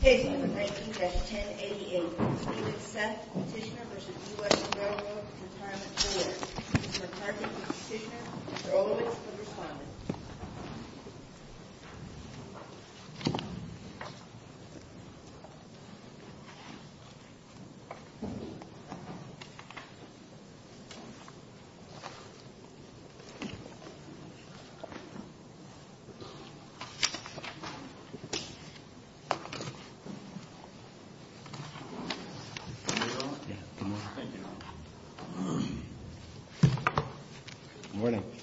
Case number 19-1088, Steve and Seth Petitioner v. US RRRB, Mr. Parker and Mr. Petitioner, Mr. Olovich, the Respondent.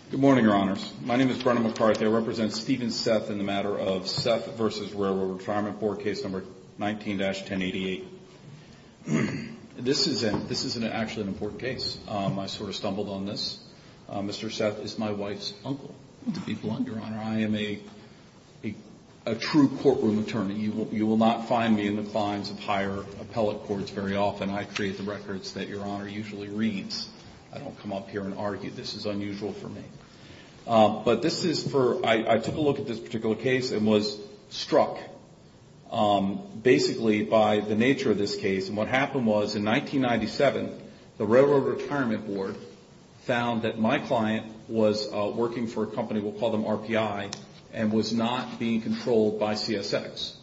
Good morning, Your Honors. My name is Brennan McCarthy. I represent Steve and Seth in the matter of Seth v. RRRB Case number 19-1088. This isn't actually an important case. I sort of stumbled on this. Mr. Seth is my wife's uncle. To be blunt, Your Honor, I am a true courtroom attorney. You will not find me in the fines of higher appellate courts very often. I create the records that Your Honor usually reads. I don't come up here and argue. This is unusual for me. I took a look at this particular case and was struck basically by the nature of this case. What happened was in 1997, the Railroad Retirement Board found that my client was working for a company, we'll call them RPI, and was not being controlled by CSX.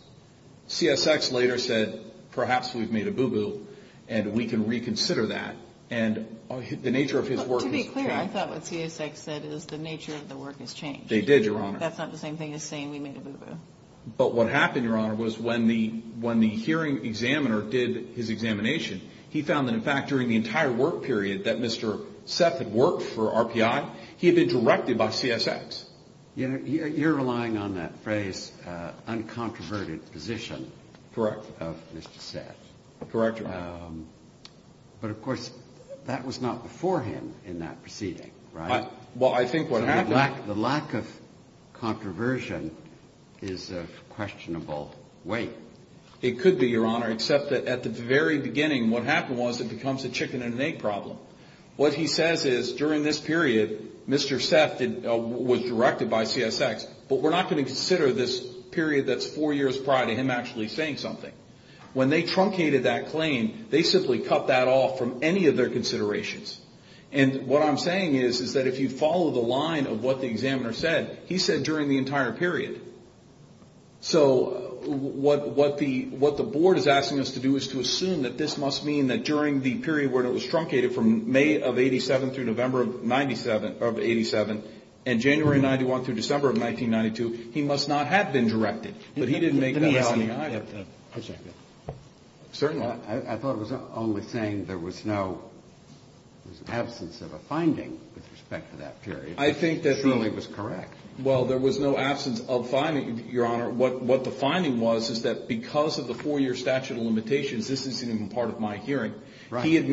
CSX later said, perhaps we've made a boo-boo and we can reconsider that. And the nature of his work has changed. To be clear, I thought what CSX said is the nature of the work has changed. They did, Your Honor. That's not the same thing as saying we made a boo-boo. But what happened, Your Honor, was when the hearing examiner did his examination, he found that in fact during the entire work period that Mr. Seth had worked for RPI, he had been directed by CSX. You're relying on that phrase, uncontroverted position. Correct. Of Mr. Seth. Correct, Your Honor. But of course, that was not before him in that proceeding, right? Well, I think what happened... The lack of controversy is of questionable weight. It could be, Your Honor, except that at the very beginning what happened was it becomes a chicken and egg problem. What he says is during this period, Mr. Seth was directed by CSX, but we're not going to consider this period that's four years prior to him actually saying something. When they truncated that claim, they simply cut that off from any of their considerations. And what I'm saying is that if you follow the line of what the examiner said, he said during the entire period. So what the board is asking us to do is to assume that this must mean that during the period where it was truncated from May of 87 through November of 87 and January of 91 through December of 1992, he must not have been directed. But he didn't make that alleging either. Certainly. I thought it was only saying there was no absence of a finding with respect to that period. It surely was correct. Well, there was no absence of finding, Your Honor. What the finding was is that because of the four-year statute of limitations, this isn't even part of my hearing. He had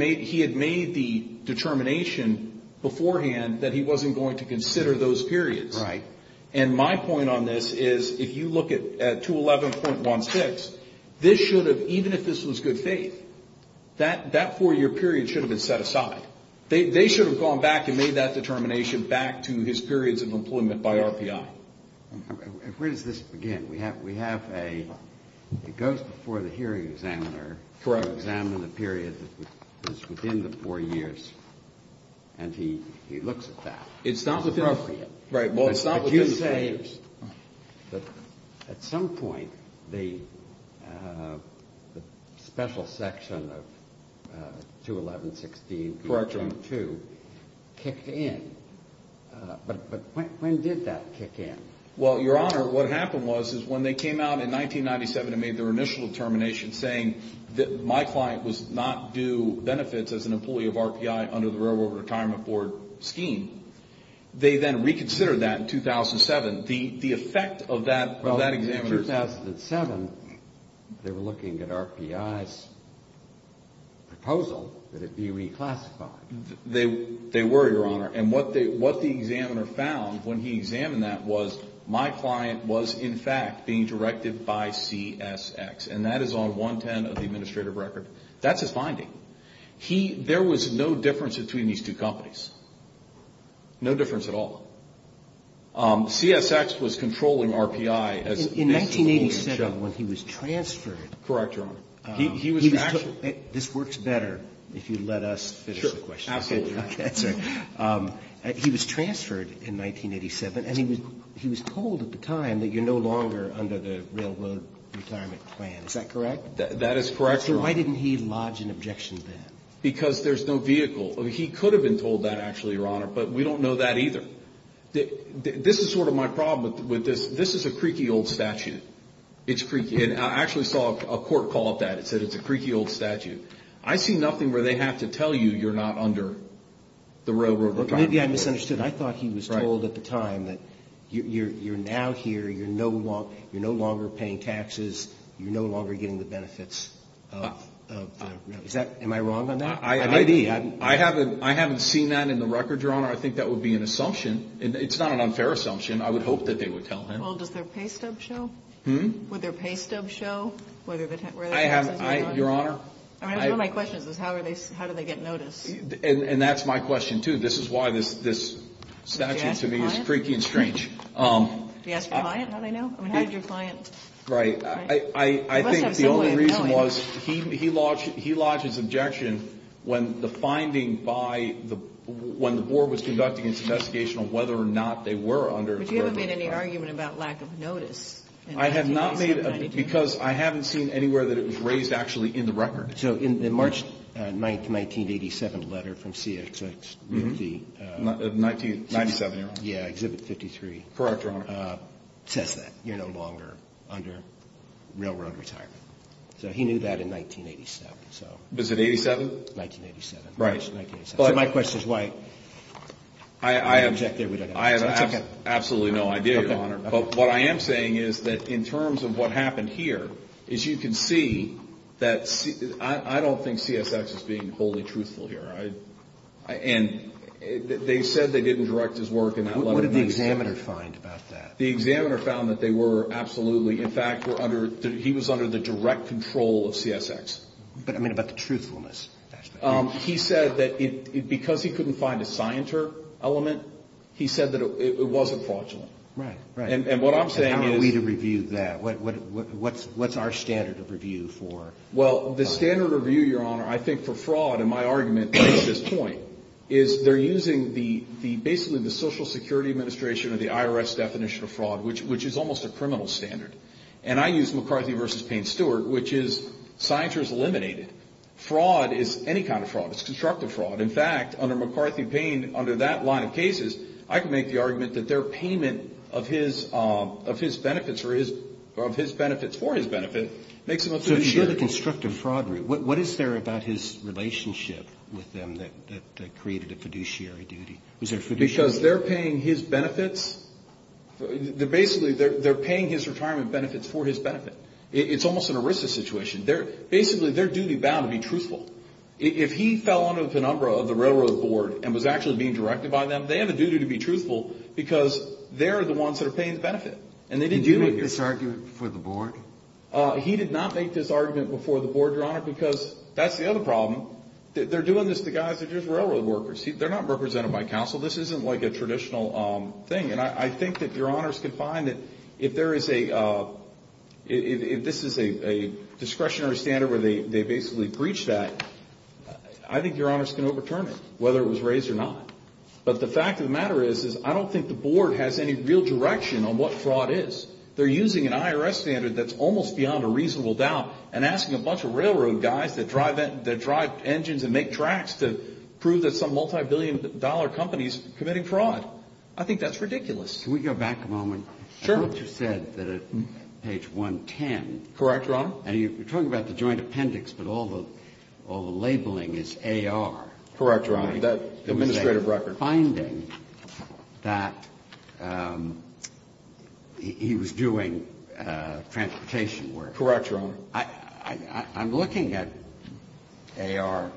made the determination beforehand that he wasn't going to consider those periods. Right. And my point on this is if you look at 211.16, this should have, even if this was good faith, that four-year period should have been set aside. They should have gone back and made that determination back to his periods of employment by RPI. Where does this begin? We have a goes before the hearing examiner. Correct. Examine the period that is within the four years. And he looks at that. It's not within the four years. Right. But when did that kick in? Well, Your Honor, what happened was is when they came out in 1997 and made their initial determination saying that my client was not due benefits as an employee of RPI under the Railroad Retirement Board scheme, they then reconsidered that in 2007. The effect of that examiner's... Well, in 2007, they were looking at RPI's proposal that it be reclassified. They were, Your Honor. And what the examiner found when he examined that was my client was, in fact, being directed by CSX. And that is on 110 of the administrative record. That's his finding. There was no difference between these two companies. No difference at all. CSX was controlling RPI. In 1987, when he was transferred... Correct, Your Honor. He was... This works better if you let us finish the question. Absolutely. He was transferred in 1987, and he was told at the time that you're no longer under the Railroad Retirement Plan. Is that correct? That is correct, Your Honor. So why didn't he lodge an objection then? Because there's no vehicle. He could have been told that, actually, Your Honor, but we don't know that either. This is sort of my problem with this. This is a creaky old statute. It's creaky. And I actually saw a court call up that. It said it's a creaky old statute. I see nothing where they have to tell you you're not under the Railroad Retirement Plan. Maybe I misunderstood. I thought he was told at the time that you're now here, you're no longer paying taxes, you're no longer getting the benefits. Am I wrong on that? I haven't seen that in the record, Your Honor. I think that would be an assumption. It's not an unfair assumption. I would hope that they would tell him. Well, does their pay stub show? Hmm? Would their pay stub show? Your Honor? One of my questions is how do they get notice? And that's my question, too. This is why this statute, to me, is creaky and strange. Did he ask for a client? How did I know? How did your client? Right. I think the only reason was he lodged his objection when the finding by the – when the board was conducting its investigation on whether or not they were under the Railroad Retirement Plan. But you haven't made any argument about lack of notice in 1997-'92? I have not made – because I haven't seen anywhere that it was raised actually in the record. So in the March 9, 1987 letter from CXX, the – 1997, Your Honor. Yeah, Exhibit 53. Correct, Your Honor. It says that. You're no longer under railroad retirement. So he knew that in 1987, so. Was it 87? 1987. Right. So my question is why – I have absolutely no idea, Your Honor. But what I am saying is that in terms of what happened here is you can see that – I don't think CXX is being wholly truthful here. And they said they didn't direct his work in that letter. What did the examiner find about that? The examiner found that they were absolutely – in fact, were under – he was under the direct control of CXX. But, I mean, about the truthfulness aspect. He said that because he couldn't find a scienter element, he said that it wasn't fraudulent. Right, right. And what I'm saying is – And how are we to review that? What's our standard of review for – Well, the standard of review, Your Honor, I think for fraud, in my argument at this point, is they're using the – basically the Social Security Administration or the IRS definition of fraud, which is almost a criminal standard. And I use McCarthy v. Payne-Stewart, which is scienters eliminated. Fraud is any kind of fraud. It's constructive fraud. In fact, under McCarthy-Payne, under that line of cases, I can make the argument that their payment of his benefits or his – of his benefits for his benefit makes him a good attorney. So if you hear the constructive fraudery, what is there about his relationship with them that created a fiduciary duty? Was there fiduciary – Because they're paying his benefits – basically, they're paying his retirement benefits for his benefit. It's almost an ERISA situation. Basically, they're duty-bound to be truthful. If he fell under the penumbra of the railroad board and was actually being directed by them, they have a duty to be truthful because they're the ones that are paying the benefit. And they didn't do it – Did you make this argument before the board? He did not make this argument before the board, Your Honor, because that's the other problem. They're doing this to guys that are just railroad workers. They're not represented by counsel. This isn't like a traditional thing. And I think that Your Honors can find that if there is a – if this is a discretionary standard where they basically breach that, I think Your Honors can overturn it, whether it was raised or not. But the fact of the matter is, is I don't think the board has any real direction on what fraud is. They're using an IRS standard that's almost beyond a reasonable doubt and asking a bunch of railroad guys that drive engines and make tracks to prove that some multibillion-dollar company is committing fraud. I think that's ridiculous. Can we go back a moment? Sure. I thought you said that at page 110 – Correct, Your Honor. And you're talking about the joint appendix, but all the labeling is AR. Correct, Your Honor. Administrative record. You're finding that he was doing transportation work. Correct, Your Honor. I'm looking at AR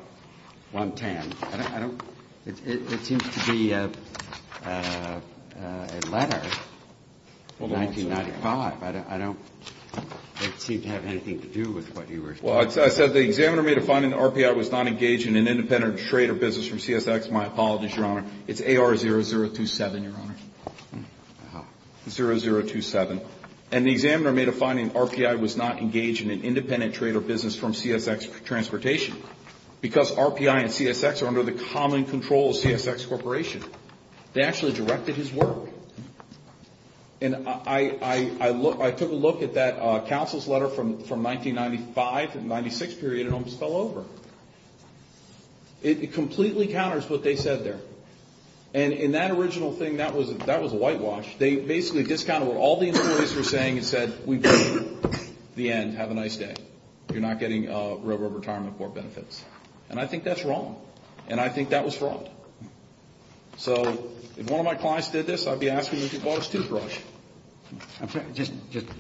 110. I don't – it seems to be a letter from 1995. I don't – it doesn't seem to have anything to do with what you were saying. Well, I said the examiner made a finding the RPI was not engaged in an independent trade or business from CSX. My apologies, Your Honor. It's AR 0027, Your Honor. Wow. 0027. And the examiner made a finding RPI was not engaged in an independent trade or business from CSX transportation because RPI and CSX are under the common control of CSX Corporation. They actually directed his work. And I took a look at that counsel's letter from 1995 to the 1996 period and it almost fell over. It completely counters what they said there. And in that original thing, that was a whitewash. They basically discounted what all the employees were saying and said, we've got the end. Have a nice day. You're not getting railroad retirement for benefits. And I think that's wrong. And I think that was fraud. So if one of my clients did this, I'd be asking if he bought his toothbrush. Just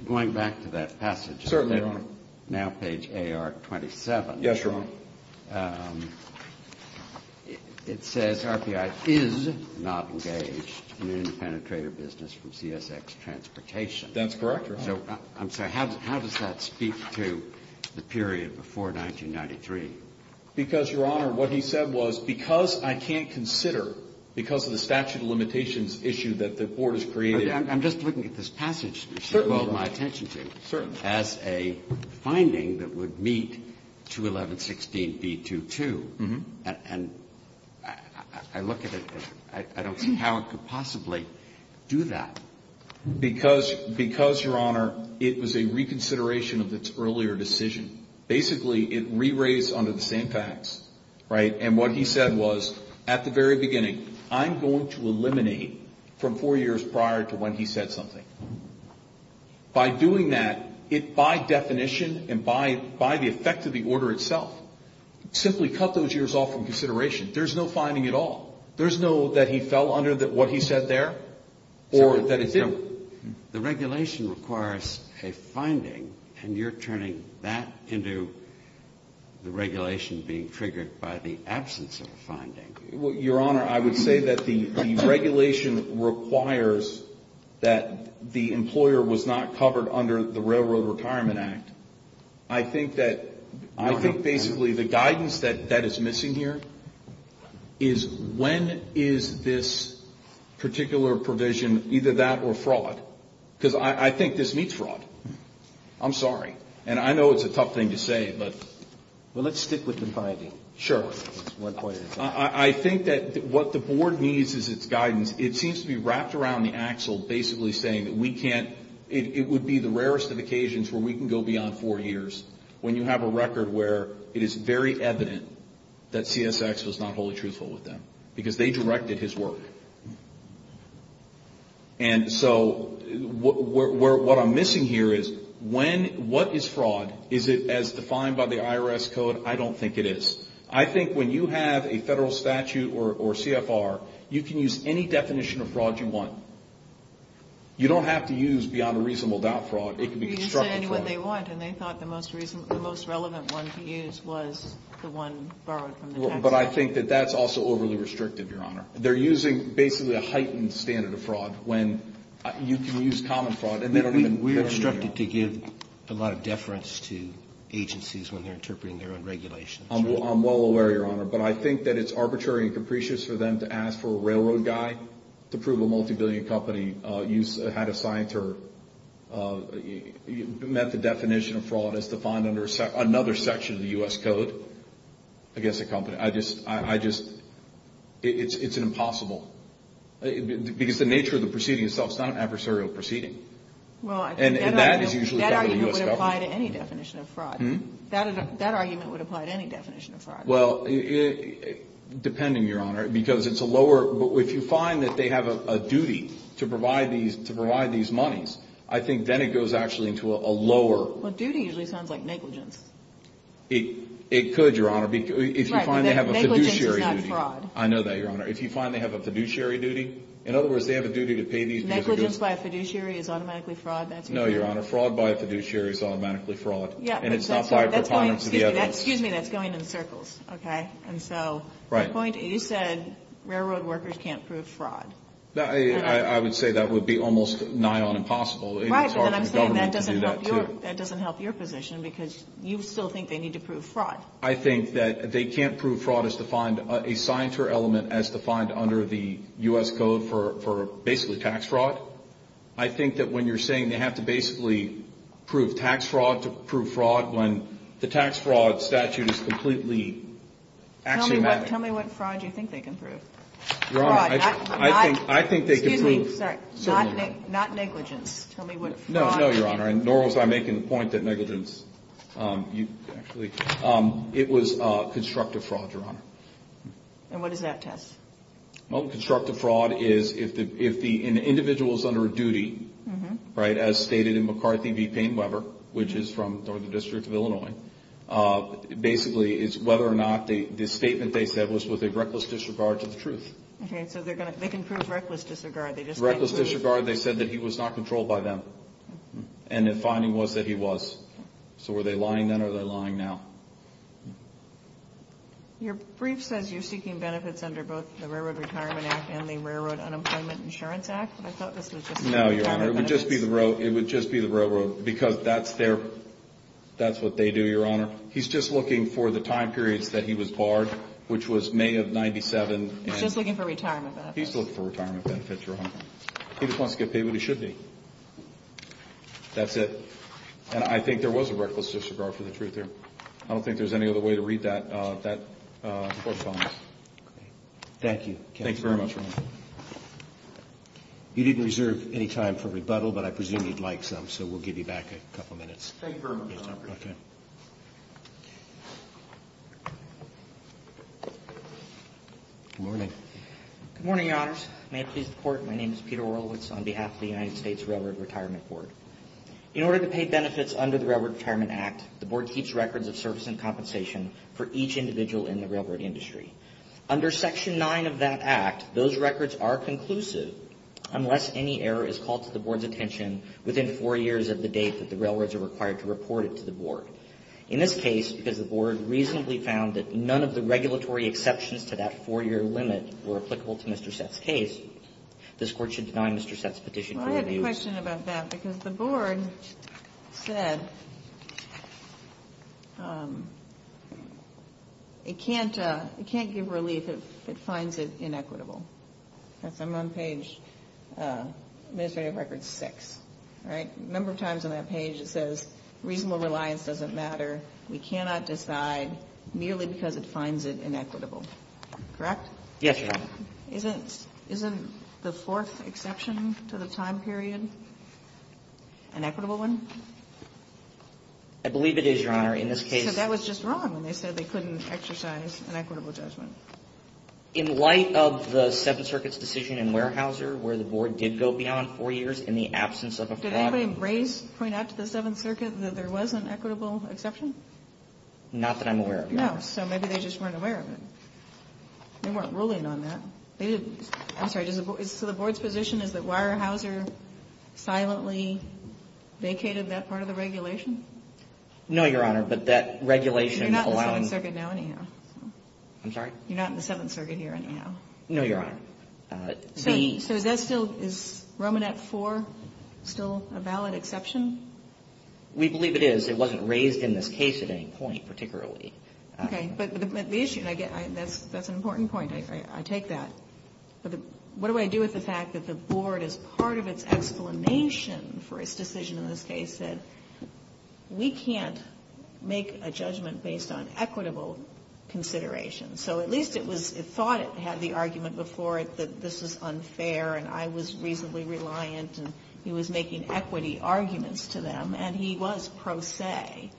going back to that passage. Certainly, Your Honor. Now page AR 27. Yes, Your Honor. It says RPI is not engaged in an independent trade or business from CSX transportation. That's correct, Your Honor. I'm sorry. How does that speak to the period before 1993? Because, Your Honor, what he said was because I can't consider, because of the statute of limitations issue that the court has created. I'm just looking at this passage. Certainly, Your Honor. As a finding that would meet 211-16B22. And I look at it and I don't see how it could possibly do that. Because, Your Honor, it was a reconsideration of its earlier decision. Basically, it re-raised under the same facts. Right? And what he said was, at the very beginning, I'm going to eliminate from four years prior to when he said something. By doing that, by definition and by the effect of the order itself, simply cut those years off from consideration. There's no finding at all. There's no that he fell under what he said there or that it didn't. The regulation requires a finding, and you're turning that into the regulation being triggered by the absence of a finding. Your Honor, I would say that the regulation requires that the employer was not covered under the Railroad Retirement Act. I think that basically the guidance that is missing here is, when is this particular provision either that or fraud? Because I think this meets fraud. I'm sorry. And I know it's a tough thing to say, but. Well, let's stick with the finding. Sure. I think that what the Board needs is its guidance. It seems to be wrapped around the axle basically saying that we can't, it would be the rarest of occasions where we can go beyond four years when you have a record where it is very evident that CSX was not wholly truthful with them because they directed his work. And so what I'm missing here is when, what is fraud? Is it as defined by the IRS code? I don't think it is. I think when you have a federal statute or CFR, you can use any definition of fraud you want. You don't have to use beyond a reasonable doubt fraud. It can be constructed fraud. They use it in what they want, and they thought the most relevant one to use was the one borrowed from the tax office. But I think that that's also overly restrictive, Your Honor. They're using basically a heightened standard of fraud when you can use common fraud. We are instructed to give a lot of deference to agencies when they're interpreting their own regulations. I'm well aware, Your Honor, but I think that it's arbitrary and capricious for them to ask for a railroad guy to prove a multi-billion company had a sign to her, met the definition of fraud as defined under another section of the U.S. code against a company. I just, I just, it's impossible. Because the nature of the proceeding itself is not an adversarial proceeding. That argument would apply to any definition of fraud. Well, depending, Your Honor, because it's a lower, but if you find that they have a duty to provide these, to provide these monies, I think then it goes actually into a lower. Duty usually sounds like negligence. It could, Your Honor. If you find they have a fiduciary duty. Negligence is not fraud. I know that, Your Honor. If you find they have a fiduciary duty, in other words they have a duty to pay these because it goes. Negligence by a fiduciary is automatically fraud. That's what you're saying. No, Your Honor. Fraud by a fiduciary is automatically fraud. Yeah. And it's not by a preponderance of the evidence. Excuse me, that's going in circles. Okay. And so. Right. You said railroad workers can't prove fraud. I would say that would be almost nigh on impossible. Right. And I'm saying that doesn't help your, that doesn't help your position because you still think they need to prove fraud. I think that they can't prove fraud as defined, a scienter element as defined under the U.S. code for basically tax fraud. I think that when you're saying they have to basically prove tax fraud to prove fraud when the tax fraud statute is completely axiomatic. Tell me what fraud you think they can prove. Your Honor, I think they can prove. Excuse me, sorry. Certainly not. Not negligence. Tell me what fraud. No, no, Your Honor. Nor was I making the point that negligence, you actually, it was constructive fraud, Your Honor. And what does that test? Well, constructive fraud is if the individual is under a duty, right, as stated in McCarthy v. Paine-Weber, which is from the District of Illinois, basically it's whether or not the statement they said was with a reckless disregard to the truth. Okay. So they can prove reckless disregard. They just can't prove. Reckless disregard. They said that he was not controlled by them. And the finding was that he was. So were they lying then or are they lying now? Your brief says you're seeking benefits under both the Railroad Retirement Act and the Railroad Unemployment Insurance Act. But I thought this was just. No, Your Honor. It would just be the railroad. Because that's their, that's what they do, Your Honor. He's just looking for the time periods that he was barred, which was May of 97. He's just looking for retirement benefits. He's looking for retirement benefits, Your Honor. He just wants to get paid when he should be. That's it. And I think there was a reckless disregard for the truth there. So I don't think there's any other way to read that correspondence. Okay. Thank you. Thanks very much, Your Honor. You didn't reserve any time for rebuttal, but I presume you'd like some. So we'll give you back a couple minutes. Thank you very much, Your Honor. Okay. Good morning. Good morning, Your Honors. May it please the Court, my name is Peter Orlewitz on behalf of the United States Railroad Retirement Board. In order to pay benefits under the Railroad Retirement Act, the Board keeps records of service and compensation for each individual in the railroad industry. Under Section 9 of that Act, those records are conclusive unless any error is called to the Board's attention within four years of the date that the railroads are required to report it to the Board. In this case, because the Board reasonably found that none of the regulatory exceptions to that four-year limit were applicable to Mr. Sett's case, this Court should deny Mr. Sett's petition for review. I have a question about that, because the Board said it can't give relief if it finds it inequitable. That's on page, administrative record 6, right? A number of times on that page it says, reasonable reliance doesn't matter, we cannot decide merely because it finds it inequitable. Correct? Yes, Your Honor. Isn't the fourth exception to the time period an equitable one? I believe it is, Your Honor. So that was just wrong when they said they couldn't exercise an equitable judgment. In light of the Seventh Circuit's decision in Weyerhaeuser where the Board did go beyond four years in the absence of a fraud. Did anybody point out to the Seventh Circuit that there was an equitable exception? Not that I'm aware of, Your Honor. No, so maybe they just weren't aware of it. They weren't ruling on that. They didn't. I'm sorry. So the Board's position is that Weyerhaeuser silently vacated that part of the regulation? No, Your Honor, but that regulation alone. You're not in the Seventh Circuit now anyhow. I'm sorry? You're not in the Seventh Circuit here anyhow. No, Your Honor. So is that still, is Romanet IV still a valid exception? We believe it is. It wasn't raised in this case at any point particularly. Okay. But the issue, and that's an important point. I take that. But what do I do with the fact that the Board, as part of its explanation for its decision in this case, said we can't make a judgment based on equitable consideration? So at least it was, it thought it had the argument before that this was unfair and I was reasonably reliant and he was making equity arguments to them, and he was pro se.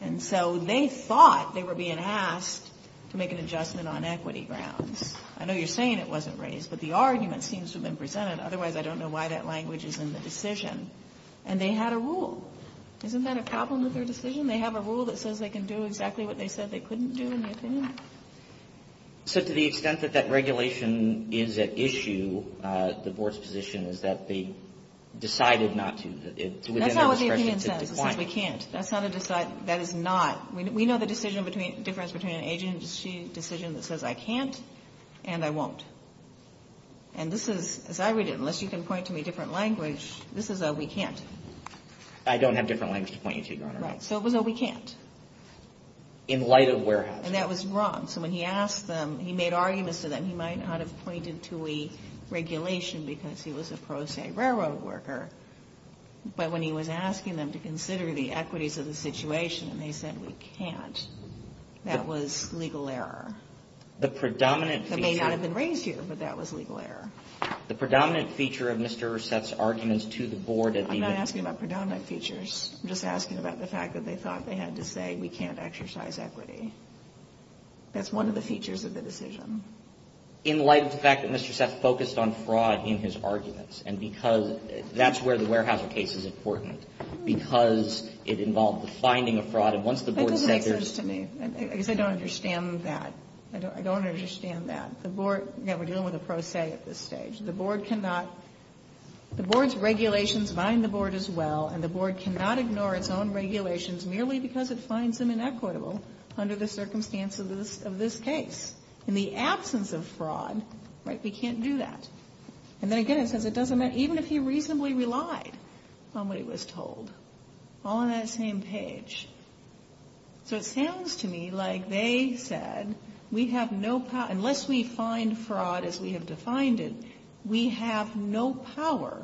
And so they thought they were being asked to make an adjustment on equity grounds. I know you're saying it wasn't raised, but the argument seems to have been presented. Otherwise, I don't know why that language is in the decision. And they had a rule. Isn't that a problem with their decision? They have a rule that says they can do exactly what they said they couldn't do in the opinion? So to the extent that that regulation is at issue, the Board's position is that they decided not to. That's not what the opinion says. It says we can't. That is not. We know the difference between an agent and a decision that says I can't and I won't. And this is, as I read it, unless you can point to me a different language, this is a we can't. I don't have different language to point you to, Your Honor. Right. So it was a we can't. In light of where has it been. And that was wrong. So when he asked them, he made arguments to them. He might not have pointed to a regulation because he was a pro se railroad worker. But when he was asking them to consider the equities of the situation and they said we can't, that was legal error. The predominant feature. That may not have been raised here, but that was legal error. The predominant feature of Mr. Seth's arguments to the Board. I'm not asking about predominant features. I'm just asking about the fact that they thought they had to say we can't exercise equity. That's one of the features of the decision. In light of the fact that Mr. Seth focused on fraud in his arguments and because that's where the warehousing case is important. Because it involved the finding of fraud. And once the Board said there's. That doesn't make sense to me. Because I don't understand that. I don't understand that. The Board, again, we're dealing with a pro se at this stage. The Board cannot. The Board's regulations bind the Board as well. And the Board cannot ignore its own regulations merely because it finds them inequitable under the circumstances of this case. In the absence of fraud, right, we can't do that. And then again it says it doesn't matter. Even if he reasonably relied on what he was told. All on that same page. So it sounds to me like they said we have no power, unless we find fraud as we have defined it, we have no power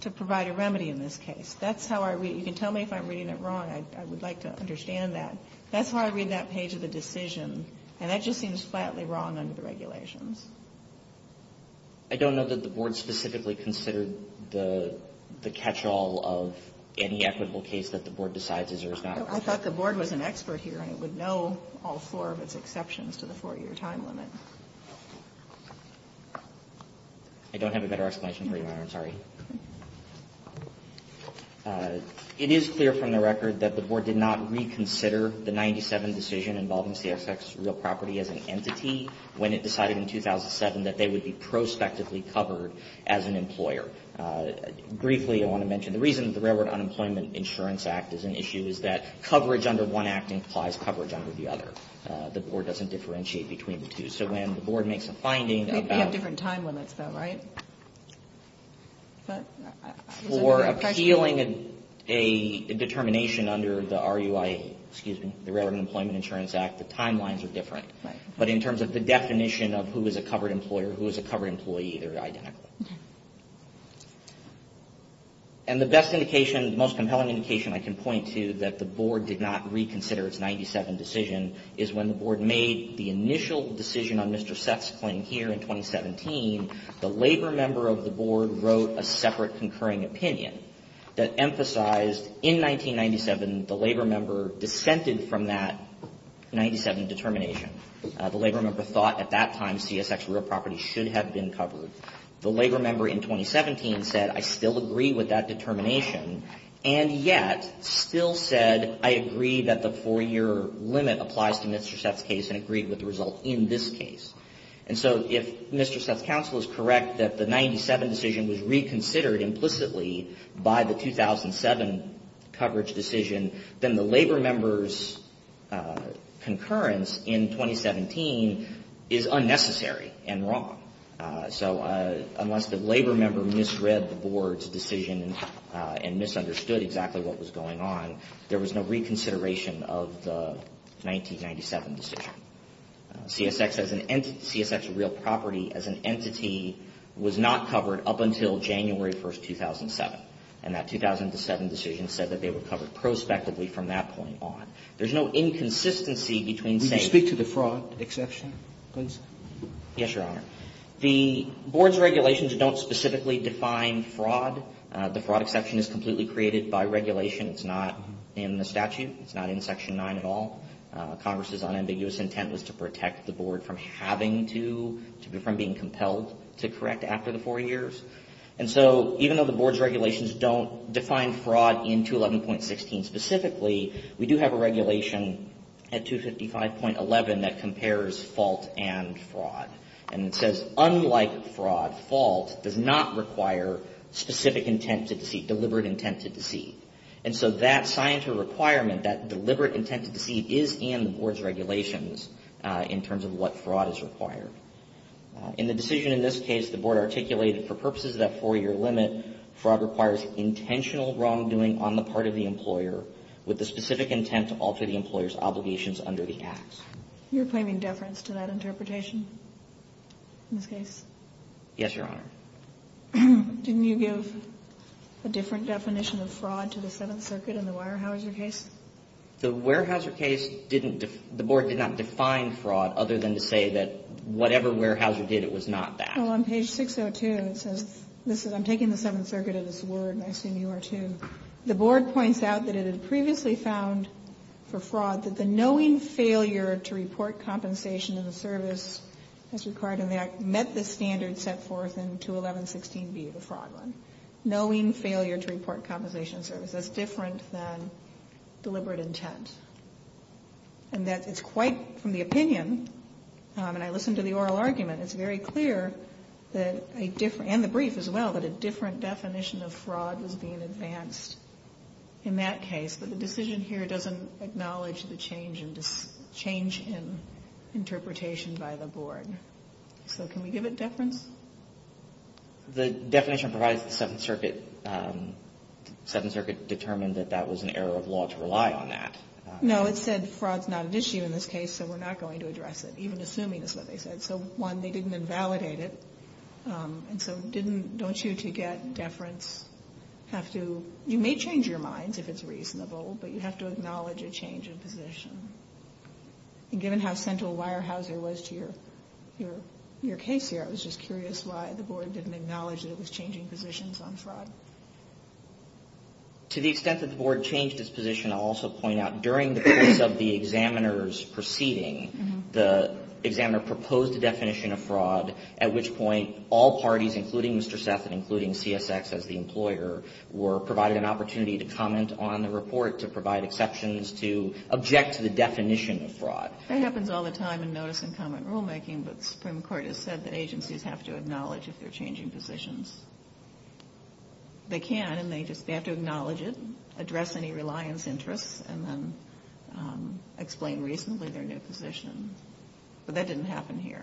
to provide a remedy in this case. That's how I read it. You can tell me if I'm reading it wrong. I would like to understand that. That's how I read that page of the decision. And that just seems flatly wrong under the regulations. I don't know that the Board specifically considered the catch-all of any equitable case that the Board decides is or is not. I thought the Board was an expert here and it would know all four of its exceptions to the four-year time limit. I don't have a better explanation for you, Your Honor. I'm sorry. It is clear from the record that the Board did not reconsider the 97 decision involving CXX Real Property as an entity when it decided in 2007 that they would be prospectively covered as an employer. Briefly, I want to mention the reason that the Railroad Unemployment Insurance Act is an issue is that coverage under one act implies coverage under the other. The Board doesn't differentiate between the two. So when the Board makes a finding about... We have different time limits, though, right? For appealing a determination under the Railroad Unemployment Insurance Act, the timelines are different. But in terms of the definition of who is a covered employer, who is a covered employee, they're identical. And the best indication, the most compelling indication I can point to that the Board did not reconsider its 97 decision is when the Board made the initial decision on Mr. Seth's claim here in 2017. The labor member of the Board wrote a separate concurring opinion that emphasized in 1997, the labor member dissented from that 97 determination. The labor member thought at that time CSX Real Property should have been covered. The labor member in 2017 said, I still agree with that determination, and yet still said, I agree that the four-year limit applies to Mr. Seth's case and agreed with the result in this case. And so if Mr. Seth's counsel is correct that the 97 decision was reconsidered implicitly by the 2007 coverage decision, then the labor member's concurrence in 2017 is unnecessary and wrong. So unless the labor member misread the Board's decision and misunderstood exactly what was going on, there was no reconsideration of the 1997 decision. CSX as an entity – CSX Real Property as an entity was not covered up until January 1, 2007, and that 2007 decision said that they were covered prospectively from that point on. There's no inconsistency between saying – Would you speak to the fraud exception, please? Yes, Your Honor. The Board's regulations don't specifically define fraud. The fraud exception is completely created by regulation. It's not in the statute. It's not in Section 9 at all. Congress's unambiguous intent was to protect the Board from having to – from being compelled to correct after the four years. And so even though the Board's regulations don't define fraud in 211.16 specifically, we do have a regulation at 255.11 that compares fault and fraud. And it says, unlike fraud, fault does not require specific intent to deceive – deliberate intent to deceive. And so that scienter requirement, that deliberate intent to deceive, is in the Board's regulations in terms of what fraud is required. In the decision in this case, the Board articulated for purposes of that four-year limit, fraud requires intentional wrongdoing on the part of the employer with the specific intent to alter the employer's obligations under the acts. You're claiming deference to that interpretation in this case? Yes, Your Honor. Didn't you give a different definition of fraud to the Seventh Circuit in the Weyerhaeuser case? The Weyerhaeuser case didn't – the Board did not define fraud other than to say that whatever Weyerhaeuser did, it was not that. Well, on page 602, it says – listen, I'm taking the Seventh Circuit at its word, and I assume you are, too. The Board points out that it had previously found for fraud that the knowing failure to report compensation in the service as required in the act met the standard set forth in 211.16b, the fraud one. Knowing failure to report compensation in service. That's different than deliberate intent. And that it's quite, from the opinion, and I listened to the oral argument, it's very clear that a different – and the brief as well – that a different definition of fraud was being advanced in that case. But the decision here doesn't acknowledge the change in interpretation by the Board. So can we give it deference? The definition provides that the Seventh Circuit determined that that was an error of law to rely on that. No. It said fraud's not an issue in this case, so we're not going to address it, even assuming it's what they said. So, one, they didn't invalidate it. And so didn't – don't you, to get deference, have to – you may change your minds if it's reasonable, but you have to acknowledge a change in position. And given how central Weyerhaeuser was to your case here, I was just curious why the Board didn't acknowledge that it was changing positions on fraud. To the extent that the Board changed its position, I'll also point out, during the course of the examiner's proceeding, the examiner proposed a definition of fraud at which point all parties, including Mr. Seth and including CSX as the provide exceptions to object to the definition of fraud. That happens all the time in notice and comment rulemaking, but the Supreme Court has said that agencies have to acknowledge if they're changing positions. They can, and they just – they have to acknowledge it, address any reliance interests, and then explain reasonably their new position. But that didn't happen here.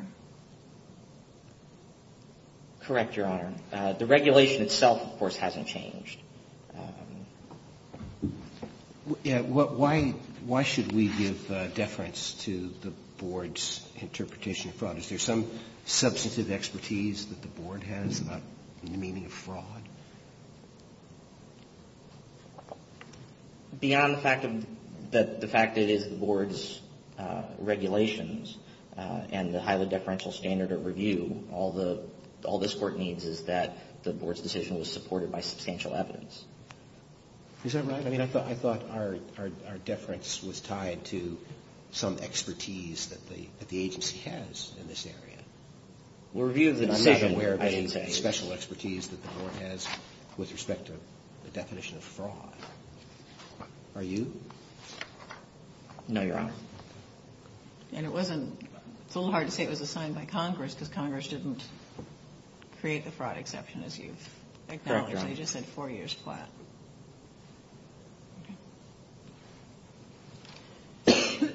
Correct, Your Honor. The regulation itself, of course, hasn't changed. Yeah. Why should we give deference to the Board's interpretation of fraud? Is there some substantive expertise that the Board has about the meaning of fraud? Beyond the fact that it is the Board's regulations and the highly deferential standard of review, all this Court needs is that the Board's decision was based on substantial evidence. Is that right? I mean, I thought our deference was tied to some expertise that the agency has in this area. We're viewed as a decision. I'm not aware of any special expertise that the Board has with respect to the definition of fraud. Are you? No, Your Honor. And it wasn't – it's a little hard to say it was assigned by Congress because Congress didn't create the fraud exception, as you've acknowledged. I just said four years flat. I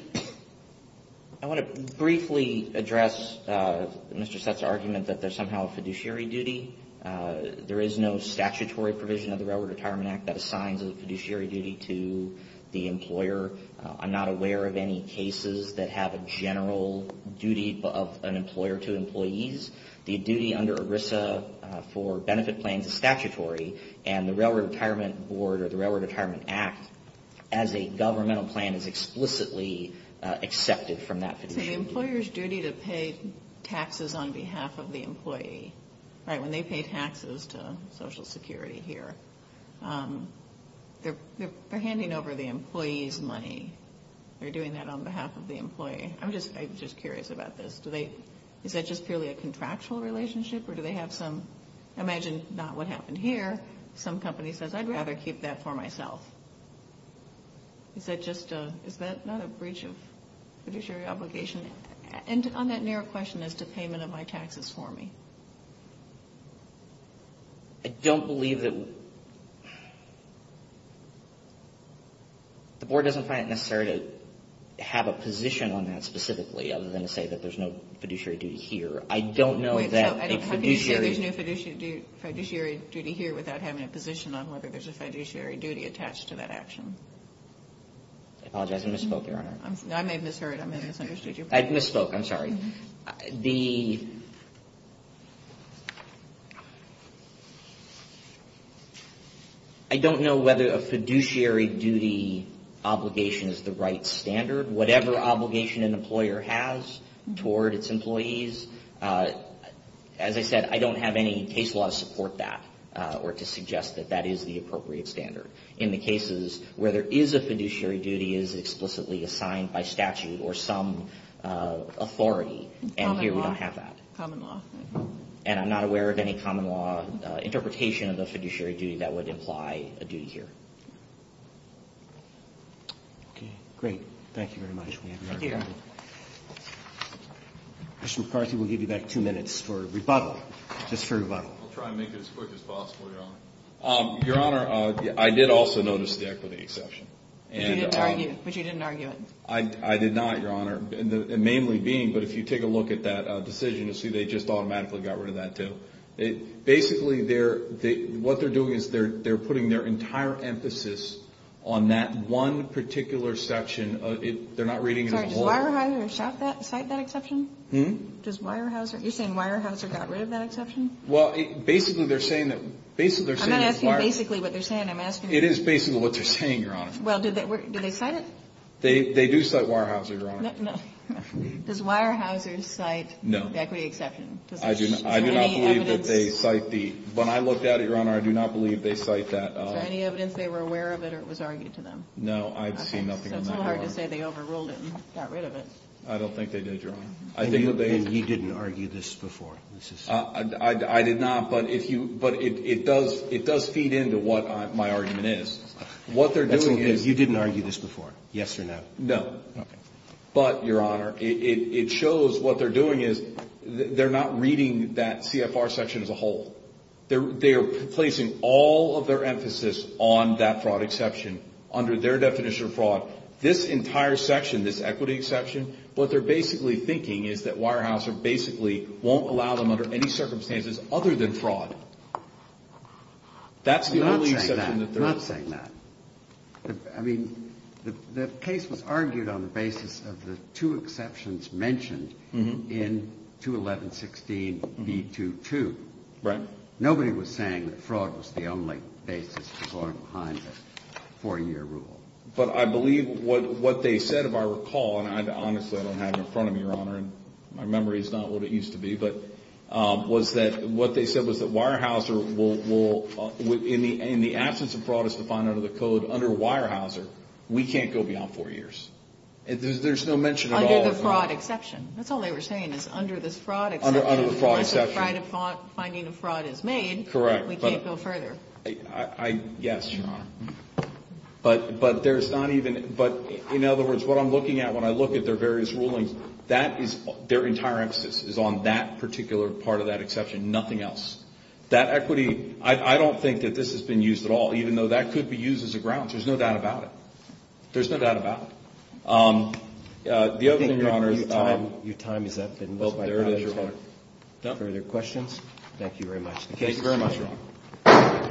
want to briefly address Mr. Sutt's argument that there's somehow a fiduciary duty. There is no statutory provision of the Railroad Retirement Act that assigns a fiduciary duty to the employer. I'm not aware of any cases that have a general duty of an employer to employees. The duty under ERISA for benefit plans is statutory, and the Railroad Retirement Board or the Railroad Retirement Act, as a governmental plan, is explicitly accepted from that fiduciary duty. So the employer's duty to pay taxes on behalf of the employee, right, when they pay taxes to Social Security here, they're handing over the employee's money. They're doing that on behalf of the employee. I'm just curious about this. Do they – is that just purely a contractual relationship, or do they have some – imagine not what happened here. Some company says, I'd rather keep that for myself. Is that just a – is that not a breach of fiduciary obligation? And on that narrow question as to payment of my taxes for me. I don't believe that – the Board doesn't find it necessary to have a position on that specifically, other than to say that there's no fiduciary duty here. I don't know that a fiduciary – Wait. So how can you say there's no fiduciary duty here without having a position on whether there's a fiduciary duty attached to that action? I apologize. I misspoke, Your Honor. I may have misheard. I may have misunderstood you. I misspoke. I'm sorry. The – I don't know whether a fiduciary duty obligation is the right standard. Whatever obligation an employer has toward its employees, as I said, I don't have any case law to support that or to suggest that that is the appropriate standard. In the cases where there is a fiduciary duty, it is explicitly assigned by statute or some authority, and here we don't have that. Common law. And I'm not aware of any common law interpretation of the fiduciary duty that would imply a duty here. Okay. Great. Thank you very much. Thank you. Commissioner McCarthy, we'll give you back two minutes for rebuttal, just for rebuttal. I'll try and make it as quick as possible, Your Honor. Your Honor, I did also notice the equity exception. But you didn't argue it. I did not, Your Honor, mainly being, but if you take a look at that decision, you'll see they just automatically got rid of that too. Basically, what they're doing is they're putting their entire emphasis on that one particular section. They're not reading it as a whole. Sorry, does Weyerhaeuser cite that exception? Hmm? You're saying Weyerhaeuser got rid of that exception? Well, basically they're saying that Weyerhaeuser. I'm not asking you basically what they're saying. I'm asking you. It is basically what they're saying, Your Honor. Well, do they cite it? They do cite Weyerhaeuser, Your Honor. No. Does Weyerhaeuser cite the equity exception? I do not believe that they cite the. Is there any evidence? When I looked at it, Your Honor, I do not believe they cite that. Is there any evidence they were aware of it or it was argued to them? No, I've seen nothing of that. Okay, so it's a little hard to say they overruled it and got rid of it. I don't think they did, Your Honor. And you didn't argue this before? I did not, but it does feed into what my argument is. What they're doing is. You didn't argue this before, yes or no? No. Okay. But, Your Honor, it shows what they're doing is they're not reading that CFR section as a whole. They are placing all of their emphasis on that fraud exception under their definition of fraud. This entire section, this equity exception, what they're basically thinking is that Weyerhaeuser basically won't allow them under any circumstances other than fraud. I'm not saying that. I'm not saying that. I mean, the case was argued on the basis of the two exceptions mentioned in 211-16-B22. Right. Nobody was saying that fraud was the only basis to go on behind a four-year rule. But I believe what they said, if I recall, and honestly I don't have it in front of me, Your Honor, and my memory is not what it used to be, but what they said was that Weyerhaeuser will, in the absence of fraud as defined under the code, under Weyerhaeuser, we can't go beyond four years. There's no mention at all. Under the fraud exception. That's all they were saying is under this fraud exception. Under the fraud exception. Unless a finding of fraud is made, we can't go further. Correct. Yes, Your Honor. But in other words, what I'm looking at when I look at their various rulings, their entire emphasis is on that particular part of that exception. Nothing else. That equity, I don't think that this has been used at all, even though that could be used as a grounds. There's no doubt about it. There's no doubt about it. The other thing, Your Honor. Your time is up. There it is, Your Honor. Further questions? Thank you very much. Thank you very much, Your Honor.